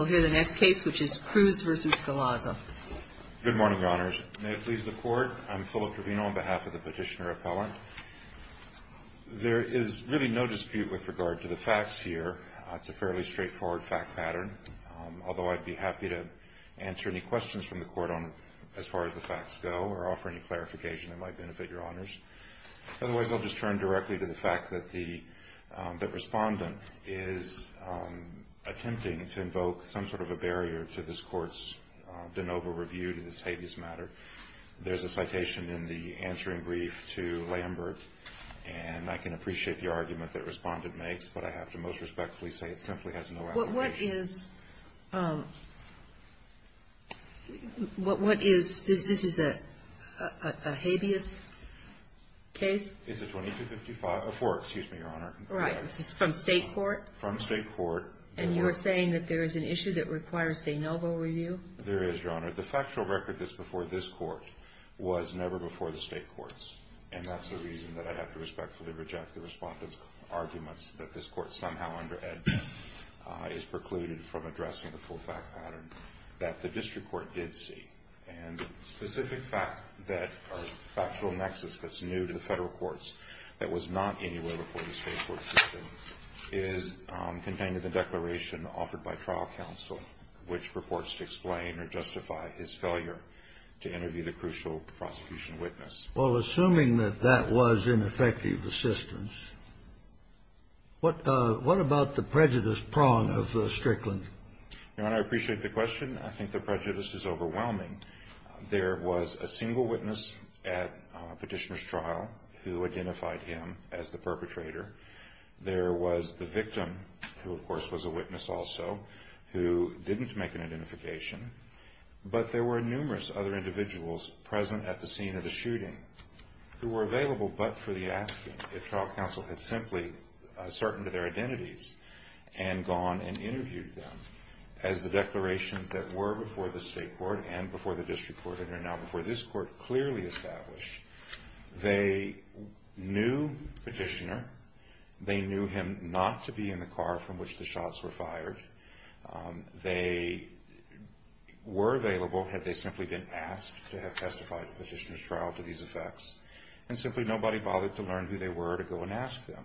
We'll hear the next case, which is Cruz v. Galaza. Good morning, Your Honors. May it please the Court, I'm Philip Trevino on behalf of the Petitioner Appellant. There is really no dispute with regard to the facts here. It's a fairly straightforward fact pattern, although I'd be happy to answer any questions from the Court on as far as the facts go or offer any clarification that might benefit Your Honors. Otherwise, I'll just turn directly to the fact that the Respondent is attempting to invoke some sort of a barrier to this Court's de novo review to this habeas matter. There's a citation in the answering brief to Lambert, and I can appreciate the argument that Respondent makes, but I have to most respectfully say it simply has no allegation. What is – what is – this is a habeas case? It's a 2255 – a four, excuse me, Your Honor. Right. This is from State court? From State court. And you are saying that there is an issue that requires de novo review? There is, Your Honor. The factual record that's before this Court was never before the State courts, and that's the reason that I have to respectfully reject the Respondent's arguments that this Court somehow under edge is precluded from addressing the full fact pattern that the District Court did see. And the specific fact that our factual nexus that's new to the Federal courts that was not anywhere before the State court system is contained in the declaration offered by trial counsel, which purports to explain or justify his failure to interview the crucial prosecution witness. Well, assuming that that was ineffective assistance, what – what about the prejudice prong of Strickland? Your Honor, I appreciate the question. I think the prejudice is overwhelming. There was a single witness at Petitioner's trial who identified him as the perpetrator. There was the victim, who of course was a witness also, who didn't make an identification. But there were numerous other individuals present at the scene of the shooting who were available but for the asking if trial counsel had simply ascertained their identities and gone and interviewed them as the declarations that were before the State court and before the District court and are now before this court clearly established. They knew Petitioner. They knew him not to be in the car from which the shots were fired. They were available had they simply been asked to have testified at Petitioner's trial to these effects. And simply nobody bothered to learn who they were to go and ask them.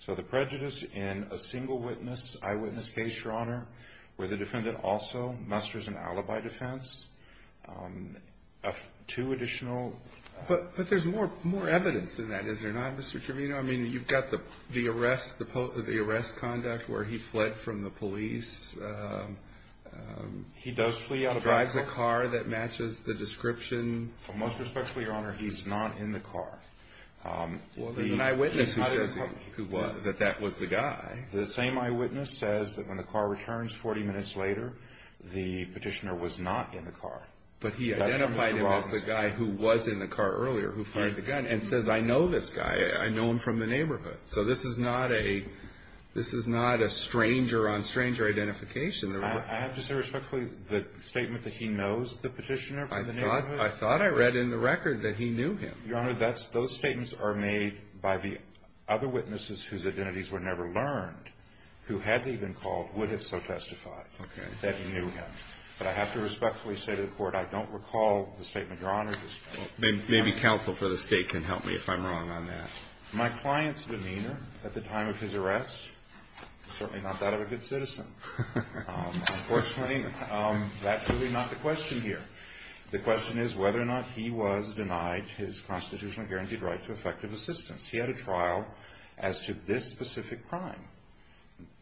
So the prejudice in a single witness, eyewitness case, Your Honor, where the defendant also musters an alibi defense, two additional – But there's more evidence in that, is there not, Mr. Trivino? I mean, you've got the arrest – the arrest conduct where he fled from the police. He does flee out of – Drives a car that matches the description. Well, most respectfully, Your Honor, he's not in the car. Well, there's an eyewitness who says that that was the guy. The same eyewitness says that when the car returns 40 minutes later, the Petitioner was not in the car. But he identified him as the guy who was in the car earlier who fired the gun and says, I know this guy. I know him from the neighborhood. So this is not a – this is not a stranger on stranger identification. I have to say respectfully, the statement that he knows the Petitioner from the neighborhood I thought I read in the record that he knew him. Your Honor, that's – those statements are made by the other witnesses whose identities were never learned who had even called, would have so testified that he knew him. But I have to respectfully say to the Court, I don't recall the statement Your Honor just made. Maybe counsel for the State can help me if I'm wrong on that. My client's demeanor at the time of his arrest, certainly not that of a good citizen. Unfortunately, that's really not the question here. The question is whether or not he was denied his constitutionally guaranteed right to effective assistance. He had a trial as to this specific crime.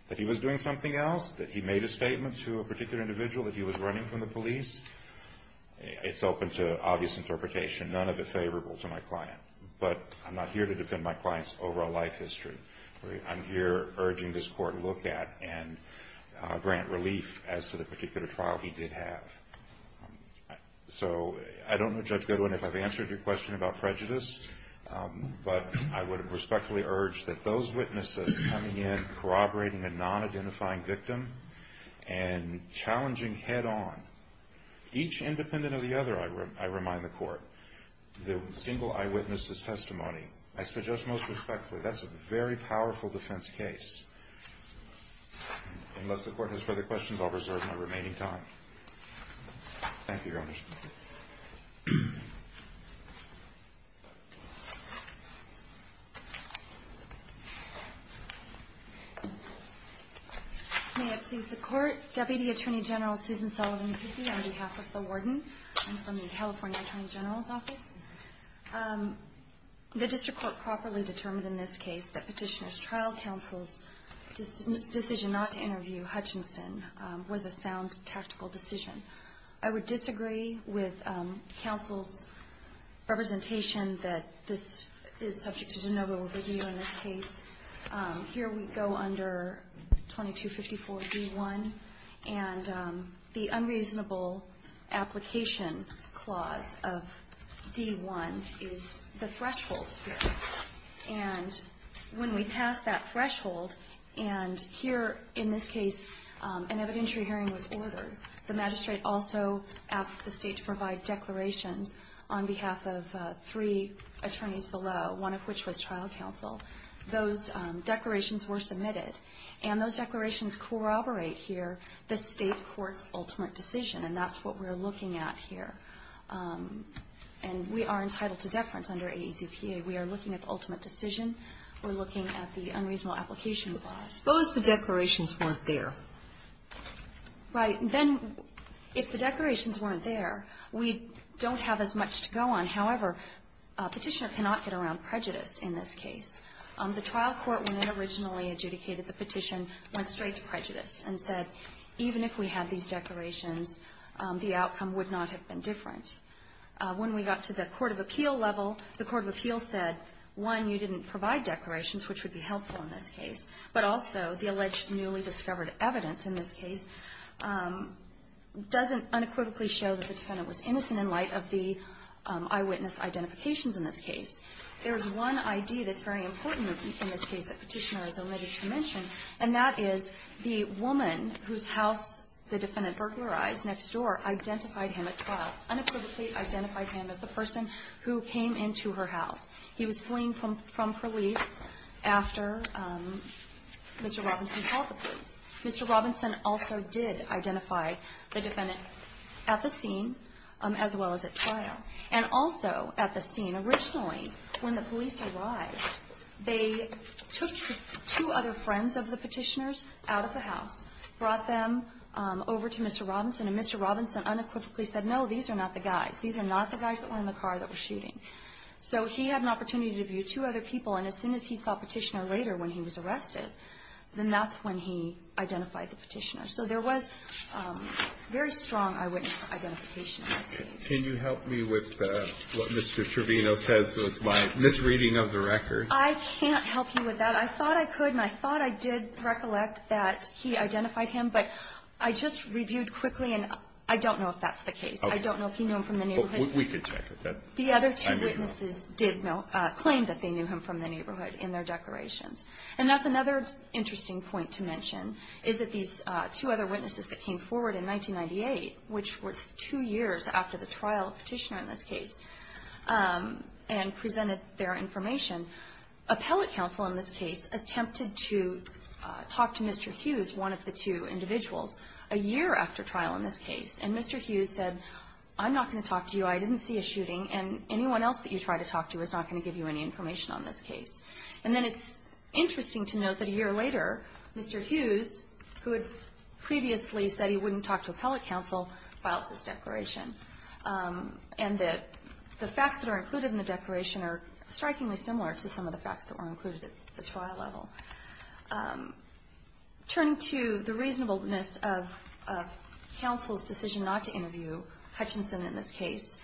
That he was doing something else, that he made a statement to a particular individual that he was running from the police, it's open to obvious interpretation. None of it favorable to my client. But I'm not here to defend my client's overall life history. I'm here urging this Court to look at and grant relief as to the particular trial he did have. So I don't know, Judge Goodwin, if I've answered your question about prejudice. But I would respectfully urge that those witnesses coming in corroborating a non-identifying victim and challenging head-on, each independent of the other, I remind the Court, the single eyewitness's testimony, I suggest most respectfully, that's a very powerful defense case. Unless the Court has further questions, I'll reserve my remaining time. Thank you, Your Honor. May it please the Court. Deputy Attorney General Susan Sullivan Cusie, on behalf of the Warden and from the California Attorney General's Office. The District Court properly determined in this case that Petitioner's Trial Counsel's decision not to interview Hutchinson was a sound, tactical decision. I would disagree with Counsel's representation that this is subject to de novo review in this case. Here we go under 2254 D.1. And the unreasonable application clause of D.1 is the threshold here. And when we pass that threshold, and here in this case an evidentiary hearing was ordered, the magistrate also asked the State to provide declarations on behalf of three attorneys below, one of which was trial counsel. Those declarations were submitted. And those declarations corroborate here the State Court's ultimate decision. And that's what we're looking at here. And we are entitled to deference under AEDPA. We are looking at the ultimate decision. We're looking at the unreasonable application clause. Suppose the declarations weren't there. Right. Then if the declarations weren't there, we don't have as much to go on. However, a petitioner cannot get around prejudice in this case. The trial court, when it originally adjudicated the petition, went straight to prejudice and said, even if we had these declarations, the outcome would not have been different. When we got to the court of appeal level, the court of appeal said, one, you didn't provide declarations, which would be helpful in this case. But also, the alleged newly discovered evidence in this case doesn't unequivocally show that the defendant was innocent in light of the eyewitness identifications in this case. There's one idea that's very important in this case that Petitioner is elated to mention, and that is the woman whose house the defendant burglarized next door identified him at trial, unequivocally identified him as the person who came into her house. He was fleeing from police after Mr. Robinson called the police. Mr. Robinson also did identify the defendant at the scene, as well as at trial, and also at the scene. Originally, when the police arrived, they took two other friends of the petitioner's out of the house, brought them over to Mr. Robinson, and Mr. Robinson unequivocally said, no, these are not the guys. These are not the guys that were in the car that were shooting. So he had an opportunity to view two other people, and as soon as he saw Petitioner later when he was arrested, then that's when he identified the petitioner. So there was very strong eyewitness identification in this case. Can you help me with what Mr. Trevino says was my misreading of the record? I can't help you with that. I thought I could, and I thought I did recollect that he identified him, but I just reviewed quickly, and I don't know if that's the case. I don't know if he knew him from the neighborhood. We can check with that. The other two witnesses did claim that they knew him from the neighborhood in their declarations, and that's another interesting point to mention is that these two other witnesses that came forward in 1998, which was two years after the trial of Petitioner in this case, and presented their information. Appellate counsel in this case attempted to talk to Mr. Hughes, one of the two individuals, a year after trial in this case, and Mr. Hughes said, I'm not going to talk to you. I didn't see a shooting, and anyone else that you try to talk to is not going to give you any information on this case. And then it's interesting to note that a year later, Mr. Hughes, who had previously said he wouldn't talk to appellate counsel, files this declaration, and that the facts that are included in the declaration are strikingly similar to some of the facts that were included at the trial level. Turning to the reasonableness of counsel's decision not to interview Hutchinson in this case,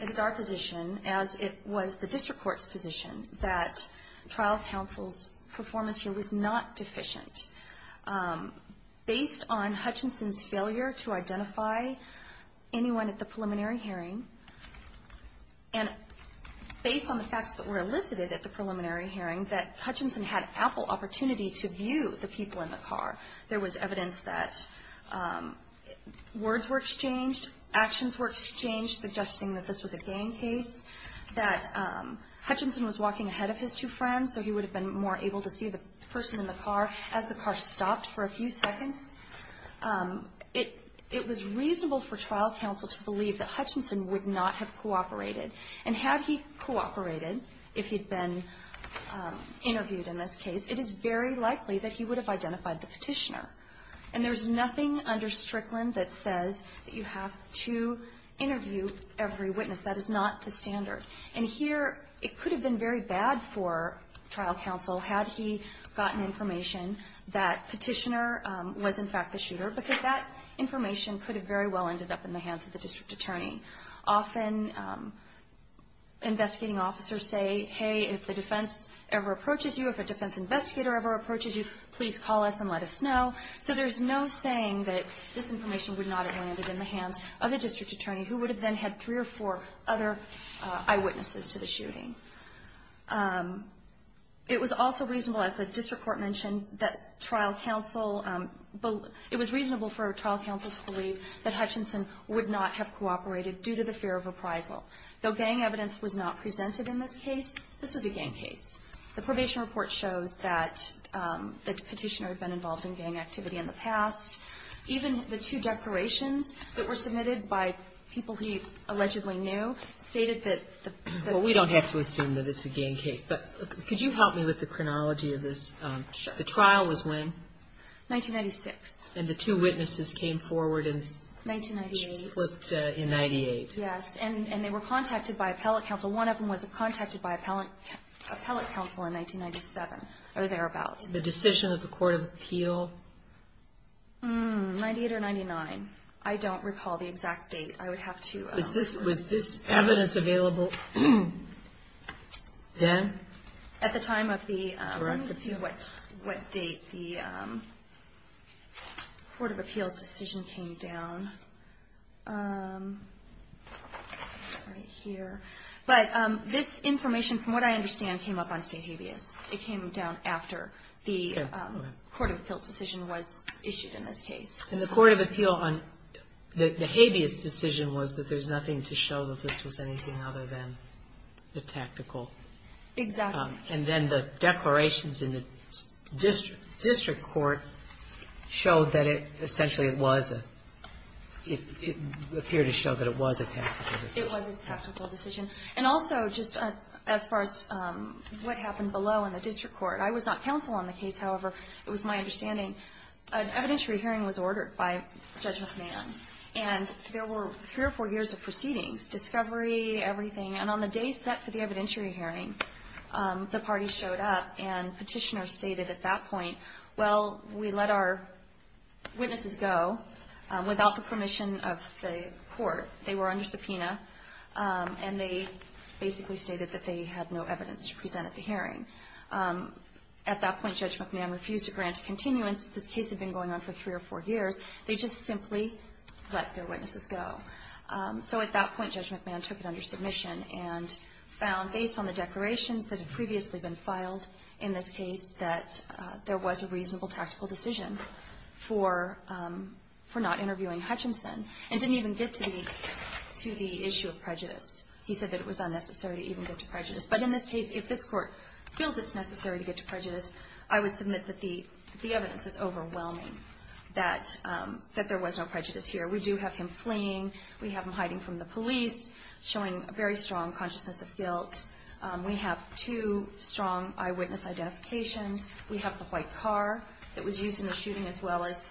it is our position, as it was the district court's position, that trial counsel's performance here was not deficient. Based on Hutchinson's failure to identify anyone at the preliminary hearing, and based on the facts that were elicited at the preliminary hearing, that Hutchinson had ample opportunity to view the people in the car. There was evidence that words were exchanged, actions were exchanged, suggesting that this was a gang case, that Hutchinson was walking ahead of his two friends, so he would have been more able to see the person in the car as the car stopped for a few seconds. It was reasonable for trial counsel to believe that Hutchinson would not have cooperated. And had he cooperated, if he'd been interviewed in this case, it is very likely that he would have identified the petitioner. And there's nothing under Strickland that says that you have to interview every witness. That is not the standard. And here, it could have been very bad for trial counsel had he gotten information that petitioner was, in fact, the shooter, because that information could have very well ended up in the hands of the district attorney. Often, investigating officers say, hey, if the defense ever approaches you, if a defense investigator ever approaches you, please call us and let us know. So there's no saying that this information would not have landed in the hands of the district attorney, who would have then had three or four other eyewitnesses to the shooting. It was also reasonable, as the district court mentioned, that trial counsel believe – it was reasonable for trial counsel to believe that Hutchinson would not have cooperated due to the fear of appraisal. Though gang evidence was not presented in this case, this was a gang case. The probation report shows that the petitioner had been involved in gang activity in the past. Even the two declarations that were submitted by people he allegedly knew stated that the – Well, we don't have to assume that it's a gang case. But could you help me with the chronology of this? Sure. The trial was when? 1996. And the two witnesses came forward and flipped in 1998. Yes. And they were contacted by appellate counsel. Well, one of them was contacted by appellate counsel in 1997, or thereabouts. The decision of the Court of Appeal? Mmm, 98 or 99. I don't recall the exact date. I would have to – Was this evidence available then? At the time of the – Correct. Let me see what date the Court of Appeal's decision came down. Right here. But this information, from what I understand, came up on state habeas. It came down after the Court of Appeal's decision was issued in this case. And the Court of Appeal on the habeas decision was that there's nothing to show that this was anything other than a tactical – Exactly. And then the declarations in the district court showed that it essentially was a – it appeared to show that it was a tactical decision. It was a tactical decision. And also, just as far as what happened below in the district court, I was not counsel on the case. However, it was my understanding an evidentiary hearing was ordered by Judge McMahon. And on the day set for the evidentiary hearing, the party showed up and petitioners stated at that point, well, we let our witnesses go without the permission of the court. They were under subpoena. And they basically stated that they had no evidence to present at the hearing. At that point, Judge McMahon refused to grant a continuance. This case had been going on for three or four years. They just simply let their witnesses go. So at that point, Judge McMahon took it under submission and found, based on the declarations that had previously been filed in this case, that there was a reasonable tactical decision for not interviewing Hutchinson and didn't even get to the issue of prejudice. He said that it was unnecessary to even get to prejudice. But in this case, if this Court feels it's necessary to get to prejudice, I would submit that the evidence is overwhelming that there was no prejudice here. We do have him fleeing. We have him hiding from the police, showing a very strong consciousness of guilt. We have two strong eyewitness identifications. We have the white car that was used in the shooting, as well as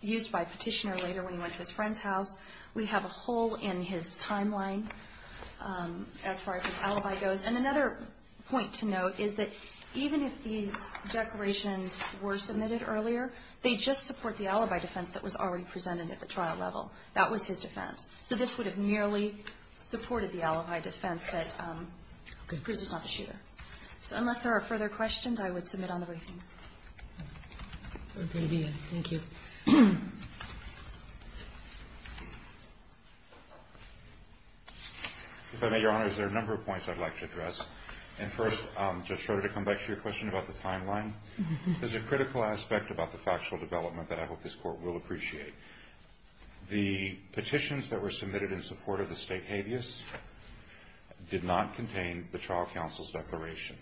used by a petitioner later when he went to his friend's house. We have a hole in his timeline as far as his alibi goes. And another point to note is that even if these declarations were submitted earlier, they just support the alibi defense that was already presented at the trial level. That was his defense. So this would have merely supported the alibi defense that Cruz was not the shooter. So unless there are further questions, I would submit on the briefing. Thank you. If I may, Your Honor, there are a number of points I'd like to address. And first, just sort of to come back to your question about the timeline, there's a critical aspect about the factual development that I hope this Court will appreciate. The petitions that were submitted in support of the state habeas did not contain the trial counsel's declaration.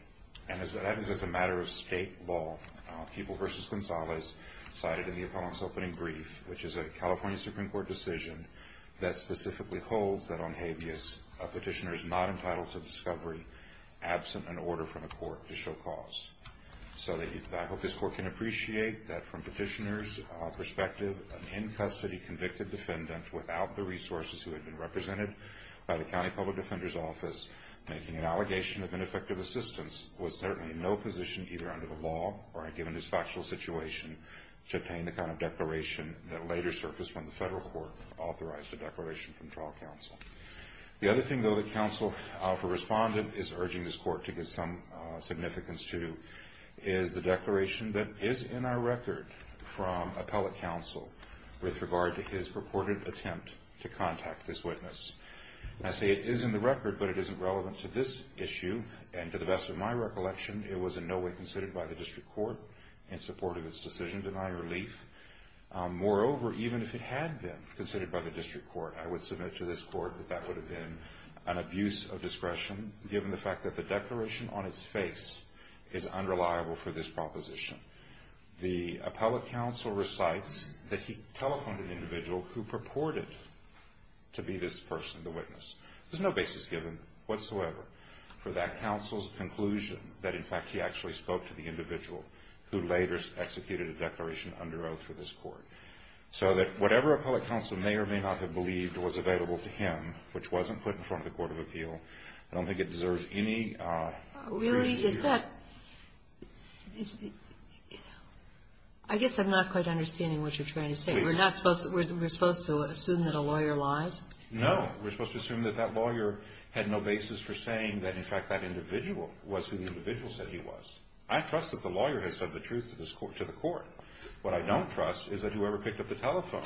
And that is as a matter of state law. People v. Gonzalez cited in the appellant's opening brief, which is a California Supreme Court decision that specifically holds that on habeas, a petitioner is not entitled to discovery absent an order from the Court to show cause. So I hope this Court can appreciate that from petitioner's perspective, an in-custody convicted defendant without the resources who had been represented by the County Public Defender's Office making an allegation of ineffective assistance was certainly in no position, either under the law or given this factual situation, to obtain the kind of declaration that later surfaced when the federal court authorized a declaration from trial counsel. The other thing, though, that counsel for respondent is urging this Court to give some significance to is the declaration that is in our record from appellate counsel with regard to his purported attempt to contact this witness. And I say it is in the record, but it isn't relevant to this issue. And to the best of my recollection, it was in no way considered by the District Court in support of its decision to deny relief. Moreover, even if it had been considered by the District Court, I would submit to this Court that that would have been an abuse of discretion given the fact that the declaration on its face is unreliable for this proposition. The appellate counsel recites that he telephoned an individual who purported to be this person, the witness. There's no basis given whatsoever for that counsel's conclusion that, in fact, he actually spoke to the individual who later executed a declaration under oath for this Court. So that whatever appellate counsel may or may not have believed was available to him, which wasn't put in front of the Court of Appeal, I don't think it deserves any... Really? Is that... I guess I'm not quite understanding what you're trying to say. Please. We're supposed to assume that a lawyer lies? No. I don't trust that that individual was who the individual said he was. I trust that the lawyer has said the truth to the Court. What I don't trust is that whoever picked up the telephone,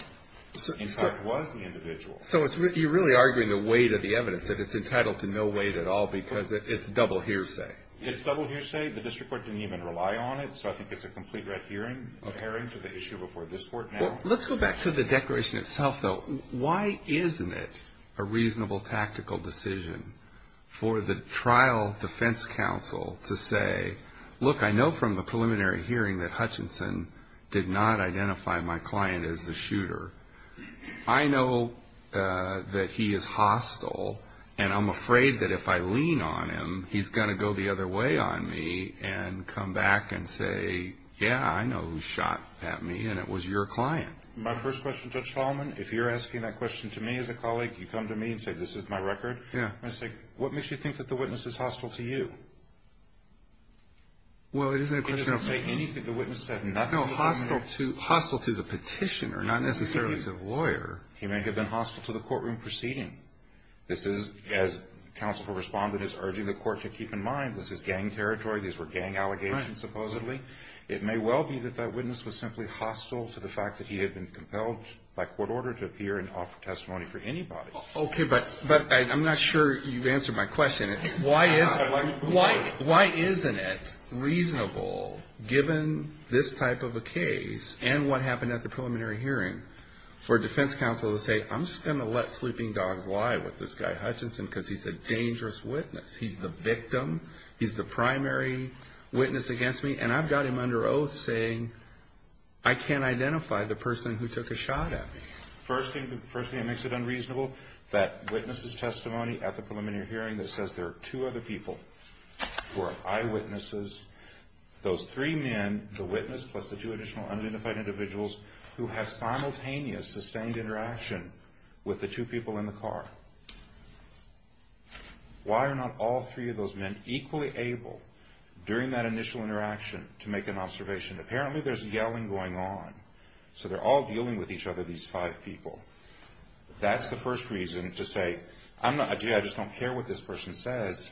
in fact, was the individual. So you're really arguing the weight of the evidence, that it's entitled to no weight at all because it's double hearsay. It's double hearsay. The District Court didn't even rely on it. So I think it's a complete red herring to the issue before this Court now. Let's go back to the declaration itself, though. Why isn't it a reasonable tactical decision for the trial defense counsel to say, look, I know from the preliminary hearing that Hutchinson did not identify my client as the shooter. I know that he is hostile, and I'm afraid that if I lean on him, he's going to go the other way on me and come back and say, yeah, I know who shot at me, and it was your client. My first question, Judge Tallman, if you're asking that question to me as a colleague, you come to me and say, this is my record. Yeah. I say, what makes you think that the witness is hostile to you? Well, it isn't a question of me. He doesn't say anything. The witness said nothing. No, hostile to the petitioner, not necessarily to the lawyer. He may have been hostile to the courtroom proceeding. This is, as counsel responded, is urging the Court to keep in mind, this is gang territory. These were gang allegations, supposedly. It may well be that that witness was simply hostile to the fact that he had been compelled by court order to appear and offer testimony for anybody. Okay, but I'm not sure you've answered my question. Why isn't it reasonable, given this type of a case, and what happened at the preliminary hearing, for a defense counsel to say, I'm just going to let sleeping dogs lie with this guy Hutchinson because he's a dangerous witness. He's the victim. He's the primary witness against me. And I've got him under oath saying, I can't identify the person who took a shot at me. First thing that makes it unreasonable, that witness's testimony at the preliminary hearing that says there are two other people who are eyewitnesses. Those three men, the witness plus the two additional unidentified individuals who have simultaneous sustained interaction with the two people in the car. Why are not all three of those men equally able, during that initial interaction, to make an observation? Apparently there's yelling going on. So they're all dealing with each other, these five people. That's the first reason to say, gee, I just don't care what this person says.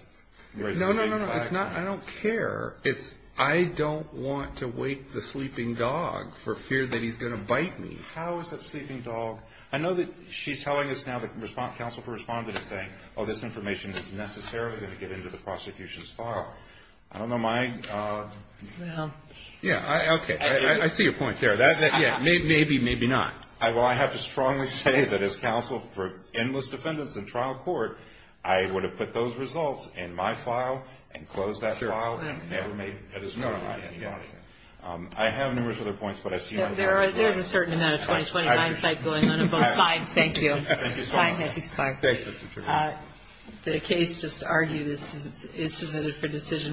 No, no, no, it's not I don't care. It's I don't want to wake the sleeping dog for fear that he's going to bite me. How is that sleeping dog? I know that she's telling us now that counsel for respondent is saying, oh, this information is necessarily going to get into the prosecution's file. I don't know my... Well... Yeah, okay. I see your point there. Maybe, maybe not. Well, I have to strongly say that as counsel for endless defendants in trial court, I would have put those results in my file and closed that file. Sure. Never made it as clear to anybody. I have numerous other points, but I see... There's a certain amount of 20-20 hindsight going on on both sides. Thank you. Thank you so much. Bye. The case just argued is submitted for decision.